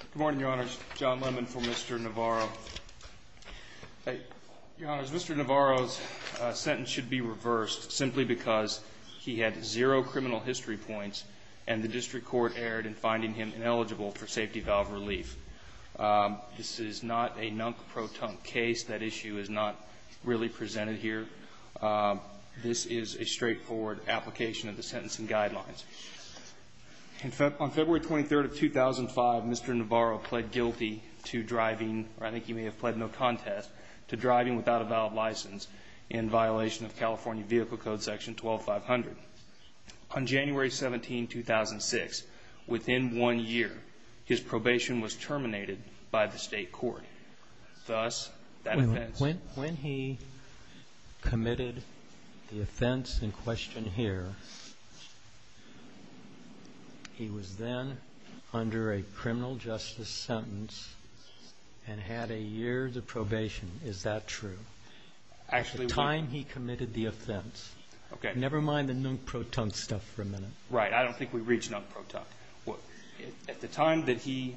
Good morning, your honors. John Lemon for Mr. Navarro. Your honors, Mr. Navarro's sentence should be reversed simply because he had zero criminal history points and the district court erred in finding him ineligible for safety valve relief. This is not a nunk-pro-tunk case. That issue is not really presented here. This is a straightforward application of the sentencing guidelines. On February 23rd of 2005, Mr. Navarro pled guilty to driving, or I think he may have pled no contest, to driving without a valid license in violation of California Vehicle Code Section 12500. On January 17, 2006, within one year, his probation was terminated by the state court. Thus, that offense. When he committed the offense in question here, he was then under a criminal justice sentence and had a year of probation. Is that true? At the time he committed the offense, never mind the nunk-pro-tunk stuff for a minute. Right. I don't think we reach nunk-pro-tunk. At the time that he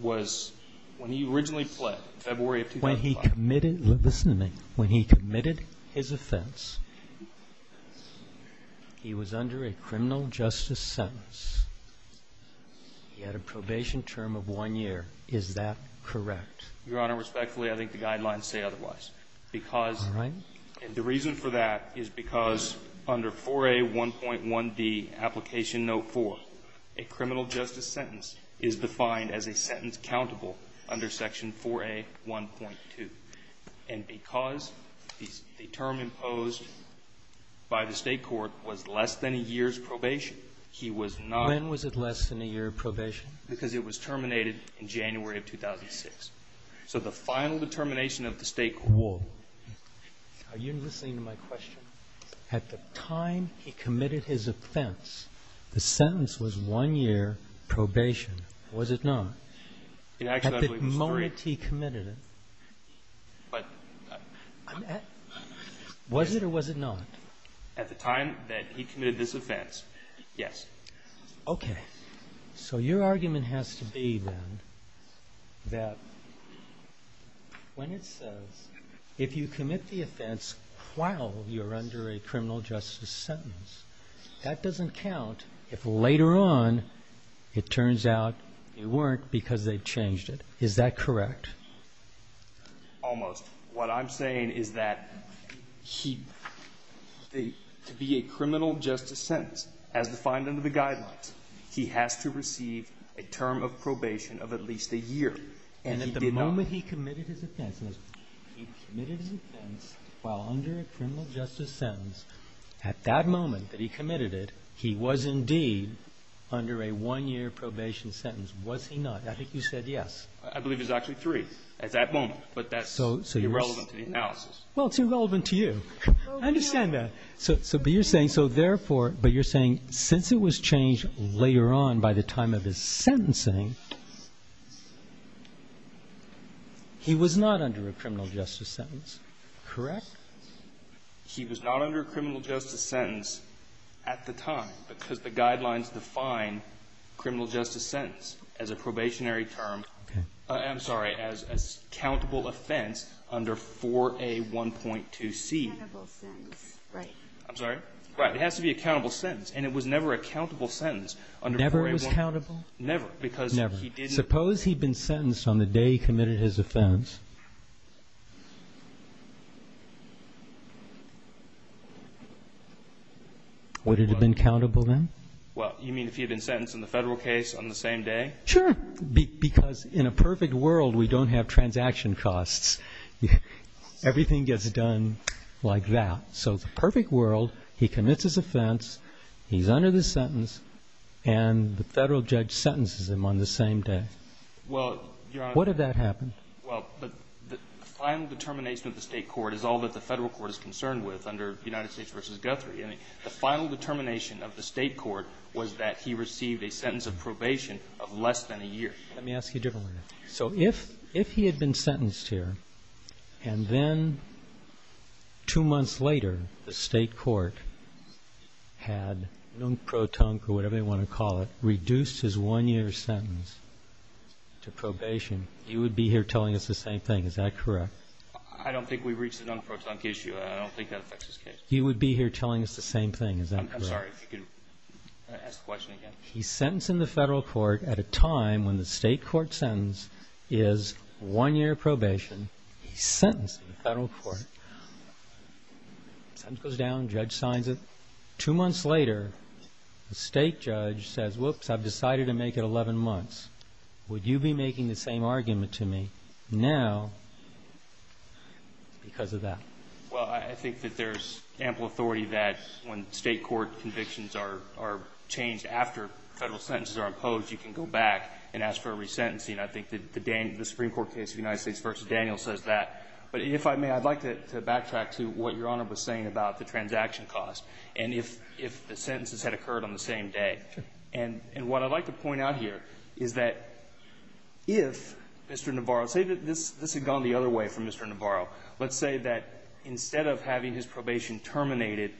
was, when he originally pled, February of 2005. When he committed, listen to me, when he committed his offense, he was under a criminal justice sentence. He had a probation term of one year. Is that correct? Your Honor, respectfully, I think the guidelines say otherwise. Because the reason for that is because under 4A1.1d, application no. 4, a criminal justice sentence is defined as a sentence countable under section 4A1.2. And because the term imposed by the state court was less than a year's probation, he was not. Because it was terminated in January of 2006. So the final determination of the state court. Are you listening to my question? At the time he committed his offense, the sentence was one year probation. Was it not? At the moment he committed it, was it or was it not? At the time that he committed this offense, yes. Okay. So your argument has to be then that when it says if you commit the offense while you're under a criminal justice sentence, that doesn't count if later on it turns out you weren't because they changed it. Is that correct? Almost. What I'm saying is that he, to be a criminal justice sentence, as defined under the guidelines, he has to receive a term of probation of at least a year. And at the moment he committed his offense, he committed his offense while under a criminal justice sentence. At that moment that he committed it, he was indeed under a one-year probation sentence. Was he not? I think you said yes. I believe it was actually three at that moment, but that's irrelevant to the analysis. Well, it's irrelevant to you. I understand that. But you're saying since it was changed later on by the time of his sentencing, he was not under a criminal justice sentence, correct? He was not under a criminal justice sentence at the time because the guidelines define criminal justice sentence as a probationary term. I'm sorry, as a countable offense under 4A1.2C. Right. I'm sorry? Right. It has to be a countable sentence, and it was never a countable sentence under 4A1.2C. Never was countable? Never, because he didn't. Suppose he'd been sentenced on the day he committed his offense. Would it have been countable then? Well, you mean if he had been sentenced in the federal case on the same day? Sure, because in a perfect world, we don't have transaction costs. Everything gets done like that. So the perfect world, he commits his offense, he's under the sentence, and the federal judge sentences him on the same day. Well, Your Honor. What if that happened? Well, the final determination of the state court is all that the federal court is concerned with under United States v. Guthrie. The final determination of the state court was that he received a sentence of probation of less than a year. Let me ask you a different way. So if he had been sentenced here, and then two months later the state court had non-pro-tunk, or whatever they want to call it, reduced his one-year sentence to probation, he would be here telling us the same thing. Is that correct? I don't think we've reached the non-pro-tunk issue. I don't think that affects this case. He would be here telling us the same thing. Is that correct? I'm sorry. If you could ask the question again. He's sentencing the federal court at a time when the state court sentence is one-year probation. He's sentencing the federal court. Sentence goes down, judge signs it. Two months later, the state judge says, whoops, I've decided to make it 11 months. Would you be making the same argument to me now because of that? Well, I think that there's ample authority that when state court convictions are changed after federal sentences are imposed, you can go back and ask for a resentencing. I think the Supreme Court case of the United States v. Daniel says that. But if I may, I'd like to backtrack to what Your Honor was saying about the transaction cost and if the sentences had occurred on the same day. And what I'd like to point out here is that if Mr. Navarro – say that this had gone the other way for Mr. Navarro. Let's say that instead of having his probation terminated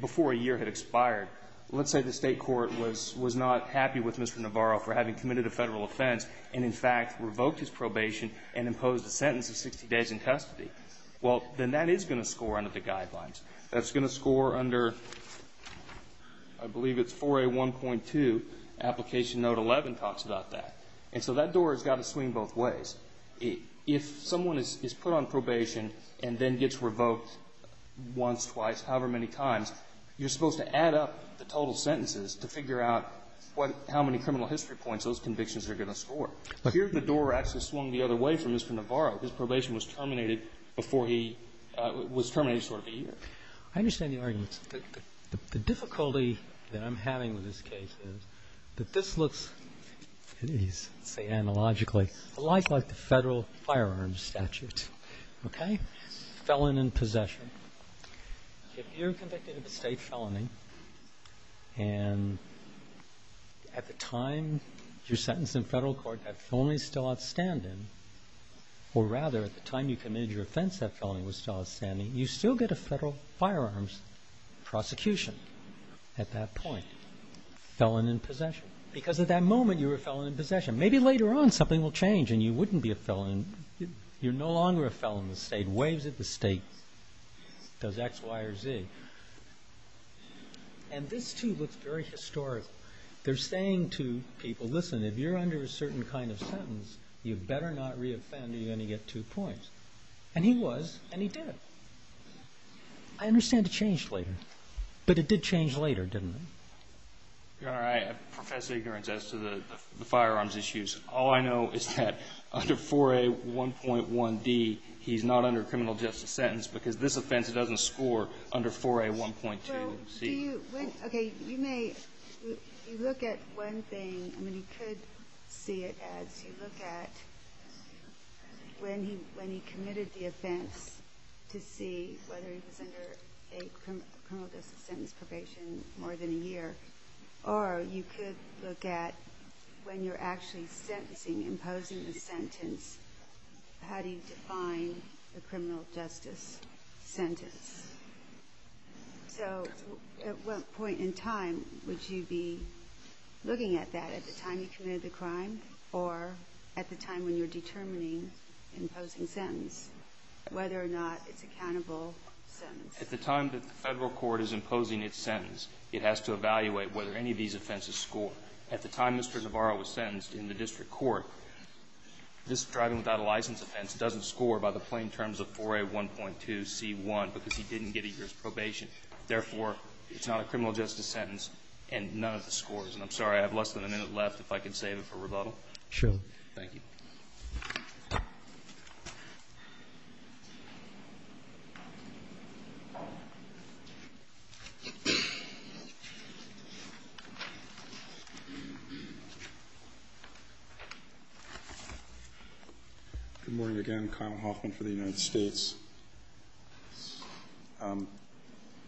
before a year had expired, let's say the state court was not happy with Mr. Navarro for having committed a federal offense and, in fact, revoked his probation and imposed a sentence of 60 days in custody. Well, then that is going to score under the guidelines. That's going to score under, I believe it's 4A1.2, application note 11 talks about that. And so that door has got to swing both ways. If someone is put on probation and then gets revoked once, twice, however many times, you're supposed to add up the total sentences to figure out what – how many criminal history points those convictions are going to score. But here the door actually swung the other way for Mr. Navarro. His probation was terminated before he – was terminated sort of a year. I understand the argument. The difficulty that I'm having with this case is that this looks, let's say analogically, a lot like the federal firearms statute. Okay? Felon in possession. If you're convicted of a state felony and at the time you're sentenced in federal court, that felony is still outstanding, or rather at the time you committed your offense, that felony was still outstanding, you still get a federal firearms prosecution at that point. Felon in possession. Because at that moment you were a felon in possession. Maybe later on something will change and you wouldn't be a felon. You're no longer a felon in the state. Waves at the state. Does X, Y, or Z. And this too looks very historical. They're saying to people, listen, if you're under a certain kind of sentence, you better not reoffend or you're going to get two points. And he was and he did. I understand it changed later. But it did change later, didn't it? Your Honor, I profess ignorance as to the firearms issues. All I know is that under 4A1.1d, he's not under a criminal justice sentence because this offense doesn't score under 4A1.2c. Okay, you may look at one thing. I mean, you could see it as you look at when he committed the offense to see whether he was under a criminal justice sentence probation more than a year. Or you could look at when you're actually sentencing, imposing the sentence, how do you define the criminal justice sentence? So at what point in time would you be looking at that? At the time you committed the crime or at the time when you're determining imposing sentence, whether or not it's a countable sentence? At the time that the Federal court is imposing its sentence, it has to evaluate whether any of these offenses score. At the time Mr. Navarro was sentenced in the district court, this driving without a license offense doesn't score by the plain terms of 4A1.2c.1 because he didn't get a year's probation. Therefore, it's not a criminal justice sentence and none of the scores. And I'm sorry, I have less than a minute left if I can save it for rebuttal. Sure, thank you. Good morning again. Kyle Hoffman for the United States.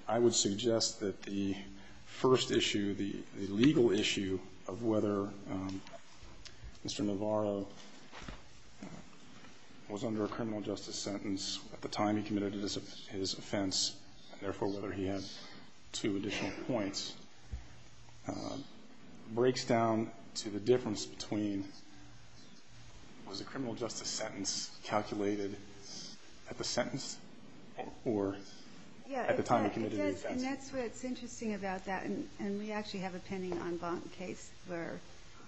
I would suggest that the first issue, the legal issue of whether Mr. Navarro was under a criminal justice sentence at the time he committed his offense, and therefore whether he had two additional points, breaks down to the difference between was a criminal justice sentence calculated at the sentence or at the time he committed the offense? Yeah, it does. And that's what's interesting about that. And we actually have a pending en banc case where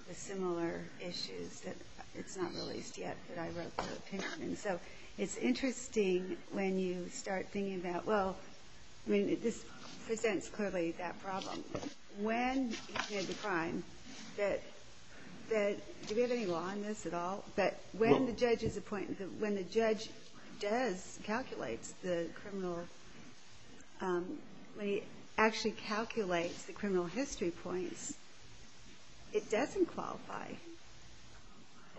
the similar issues that it's not released yet, but I wrote the opinion. And so it's interesting when you start thinking about, well, I mean, this presents clearly that problem. When he committed the crime, do we have any law on this at all? But when the judge calculates the criminal, when he actually calculates the criminal history points, it doesn't qualify.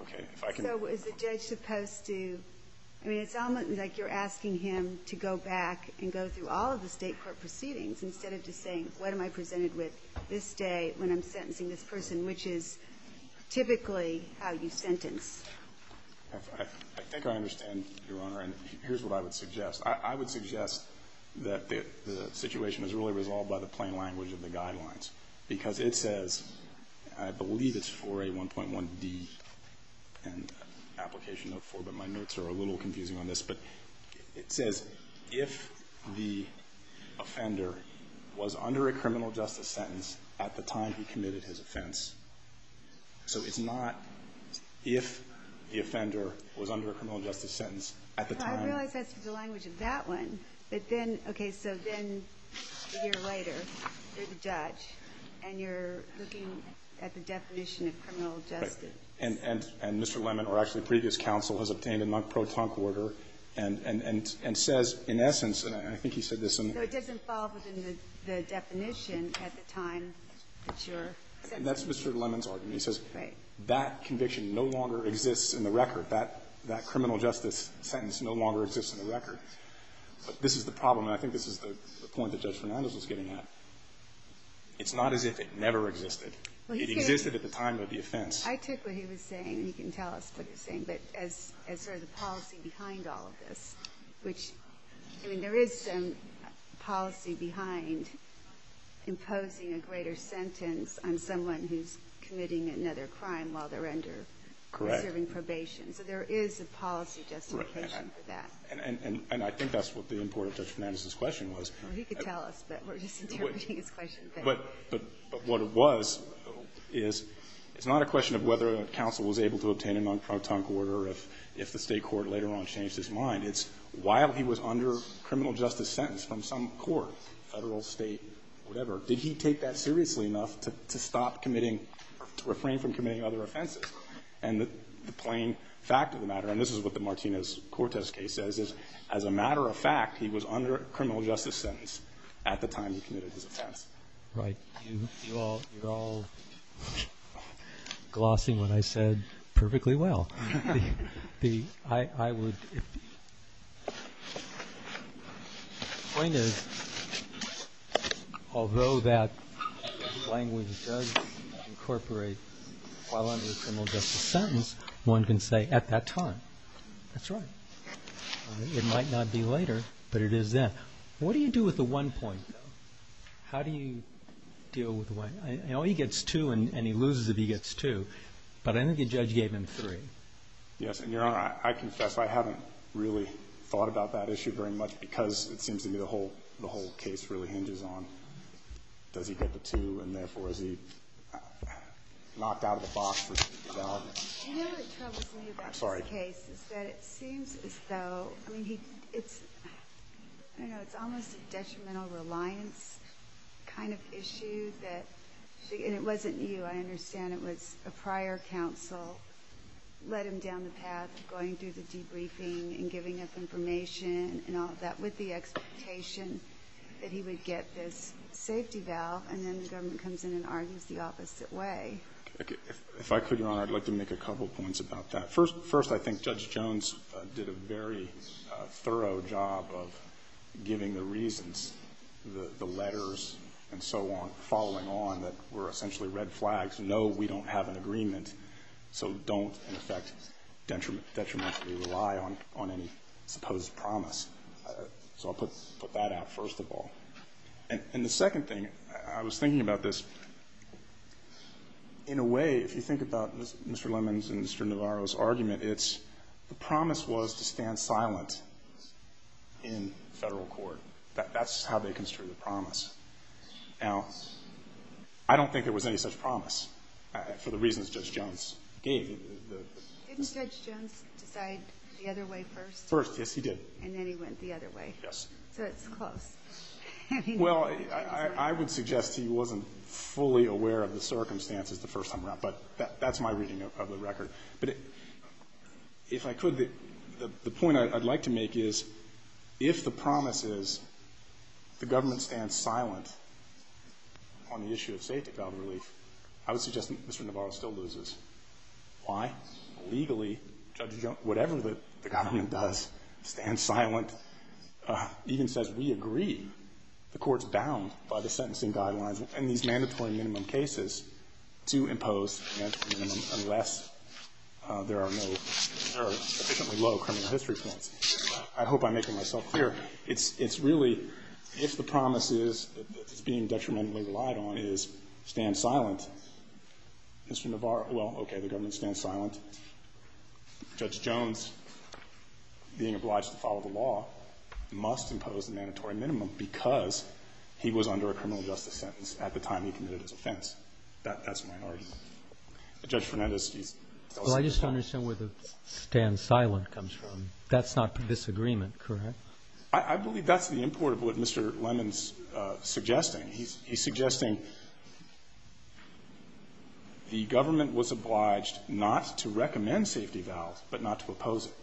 Okay. So is the judge supposed to, I mean, it's almost like you're asking him to go back and go through all of the State court proceedings instead of just saying, what am I presented with this day when I'm sentencing this person, which is typically how you sentence. I think I understand, Your Honor, and here's what I would suggest. I would suggest that the situation is really resolved by the plain language of the guidelines, because it says, I believe it's for a 1.1D and application of four, but my notes are a little confusing on this. But it says, if the offender was under a criminal justice sentence at the time he committed his offense. So it's not if the offender was under a criminal justice sentence at the time. I realize that's the language of that one. But then, okay, so then a year later, you're the judge, and you're looking at the definition of criminal justice. Right. And Mr. Lemon, or actually previous counsel, has obtained a non-protonc order and says, in essence, and I think he said this. So it doesn't fall within the definition at the time that you're sentencing. That's Mr. Lemon's argument. He says that conviction no longer exists in the record. That criminal justice sentence no longer exists in the record. This is the problem, and I think this is the point that Judge Fernandez was getting at. It's not as if it never existed. It existed at the time of the offense. I took what he was saying, and he can tell us what he was saying, but as sort of the policy behind all of this, which, I mean, there is some policy behind imposing a greater sentence on someone who's committing another crime while they're under or serving probation. Correct. So there is a policy justification for that. And I think that's what the import of Judge Fernandez's question was. Well, he could tell us, but we're just interpreting his question. But what it was is it's not a question of whether counsel was able to obtain a non-protonc order or if the State court later on changed his mind. It's while he was under criminal justice sentence from some court, Federal, State, whatever, did he take that seriously enough to stop committing or to refrain from committing other offenses? And the plain fact of the matter, and this is what the Martinez-Cortez case says, is as a matter of fact, he was under a criminal justice sentence at the time he committed his offense. Right. You're all glossing what I said perfectly well. The point is, although that language does incorporate while under a criminal justice sentence, one can say at that time. That's right. It might not be later, but it is then. What do you do with the one point, though? How do you deal with the one? You know, he gets two and he loses if he gets two, but I think the judge gave him three. Yes. And, Your Honor, I confess I haven't really thought about that issue very much because it seems to me the whole case really hinges on does he get the two and, therefore, is he knocked out of the box for development. You know what troubles me about this case is that it seems as though, I mean, it's almost a detrimental reliance kind of issue. And it wasn't you. I understand it was a prior counsel led him down the path of going through the debriefing and giving up information and all of that with the expectation that he would get this safety valve, and then the government comes in and argues the opposite way. If I could, Your Honor, I'd like to make a couple points about that. First, I think Judge Jones did a very thorough job of giving the reasons, the letters and so on, following on that were essentially red flags, no, we don't have an agreement, so don't, in effect, detrimentally rely on any supposed promise. So I'll put that out first of all. And the second thing, I was thinking about this. In a way, if you think about Mr. Lemons and Mr. Navarro's argument, it's the promise was to stand silent in Federal court. That's how they construe the promise. Now, I don't think there was any such promise for the reasons Judge Jones gave. Didn't Judge Jones decide the other way first? First, yes, he did. And then he went the other way. Yes. So it's close. Well, I would suggest he wasn't fully aware of the circumstances the first time around, but that's my reading of the record. But if I could, the point I'd like to make is if the promise is the government stands silent on the issue of safety valve relief, I would suggest Mr. Navarro still loses. Why? Because legally, Judge Jones, whatever the government does, stands silent, even says we agree, the court's bound by the sentencing guidelines and these mandatory minimum cases to impose a mandatory minimum unless there are no, there are sufficiently low criminal history points. I hope I'm making myself clear. It's really, if the promise is, is being detrimentally relied on, is stand silent, Mr. Navarro, well, okay, the government stands silent. Judge Jones, being obliged to follow the law, must impose a mandatory minimum because he was under a criminal justice sentence at the time he committed his offense. That's a minority. Judge Fernandez, please. Well, I just don't understand where the stand silent comes from. That's not disagreement, correct? I believe that's the import of what Mr. Lemons is suggesting. He's suggesting the government was obliged not to recommend safety valve but not to oppose it.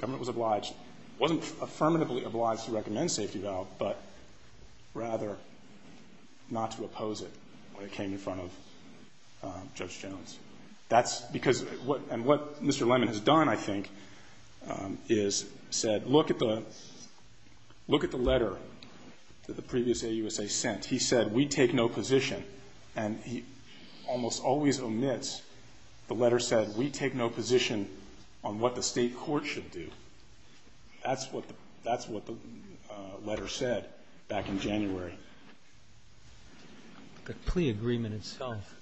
Government was obliged, wasn't affirmatively obliged to recommend safety valve, but rather not to oppose it when it came in front of Judge Jones. That's because, and what Mr. Lemon has done, I think, is said look at the letter that the previous AUSA sent. He said, we take no position, and he almost always omits the letter said, we take no position on what the state court should do. That's what the letter said back in January. The plea agreement itself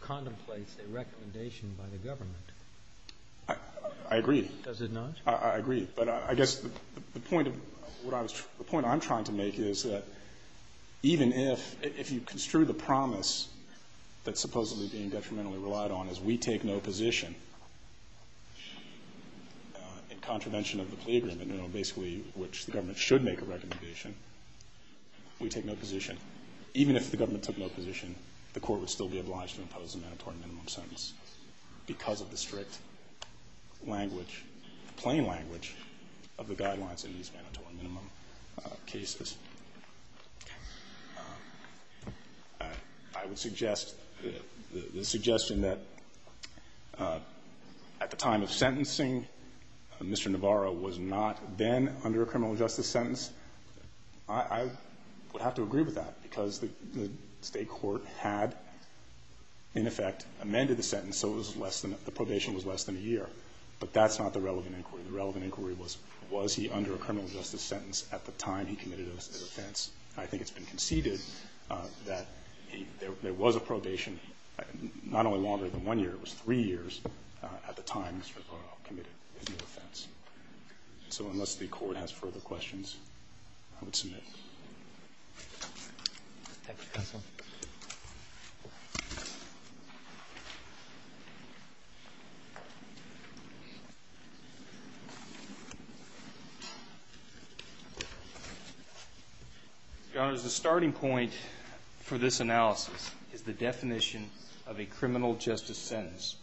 contemplates a recommendation by the government. I agree. Does it not? I agree. But I guess the point I'm trying to make is that even if you construe the promise that's supposedly being detrimentally relied on as we take no position in contravention of the plea agreement, you know, basically which the government should make a recommendation, we take no position. Even if the government took no position, the court would still be obliged to impose a mandatory minimum sentence because of the strict language, plain language, of the guidelines in these mandatory minimum cases. I would suggest the suggestion that at the time of sentencing, Mr. Navarro was not then under a criminal justice sentence. I would have to agree with that because the state court had, in effect, amended the sentence, so the probation was less than a year. But that's not the relevant inquiry. The relevant inquiry was, was he under a criminal justice sentence at the time he committed his offense. I think it's been conceded that there was a probation not only longer than one year, it was three years at the time Mr. Navarro committed his offense. So unless the Court has further questions, I would submit. Roberts. The starting point for this analysis is the definition of a criminal justice sentence.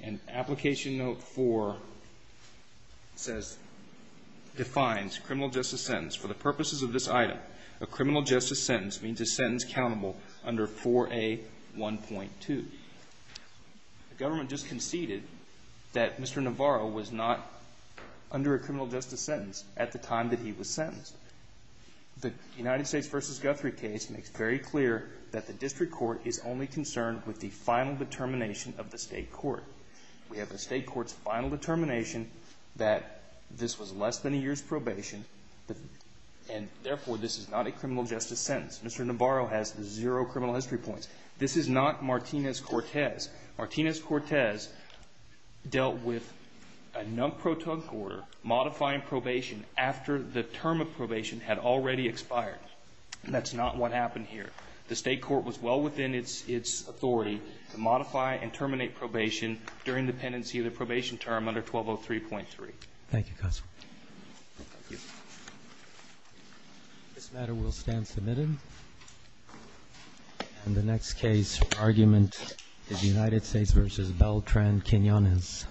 And Application Note 4 says, defines criminal justice sentence. For the purposes of this item, a criminal justice sentence means a sentence countable under 4A1.2. The government just conceded that Mr. Navarro was not under a criminal justice sentence at the time that he was sentenced. The United States v. Guthrie case makes very clear that the district court is only the state court. We have the state court's final determination that this was less than a year's probation and, therefore, this is not a criminal justice sentence. Mr. Navarro has zero criminal history points. This is not Martinez-Cortez. Martinez-Cortez dealt with a non-proton order modifying probation after the term of probation had already expired. That's not what happened here. The state court was well within its authority to modify and terminate probation during the pendency of the probation term under 1203.3. Thank you, Counselor. This matter will stand submitted. And the next case argument is United States v. Beltran-Quinonez. Thank you.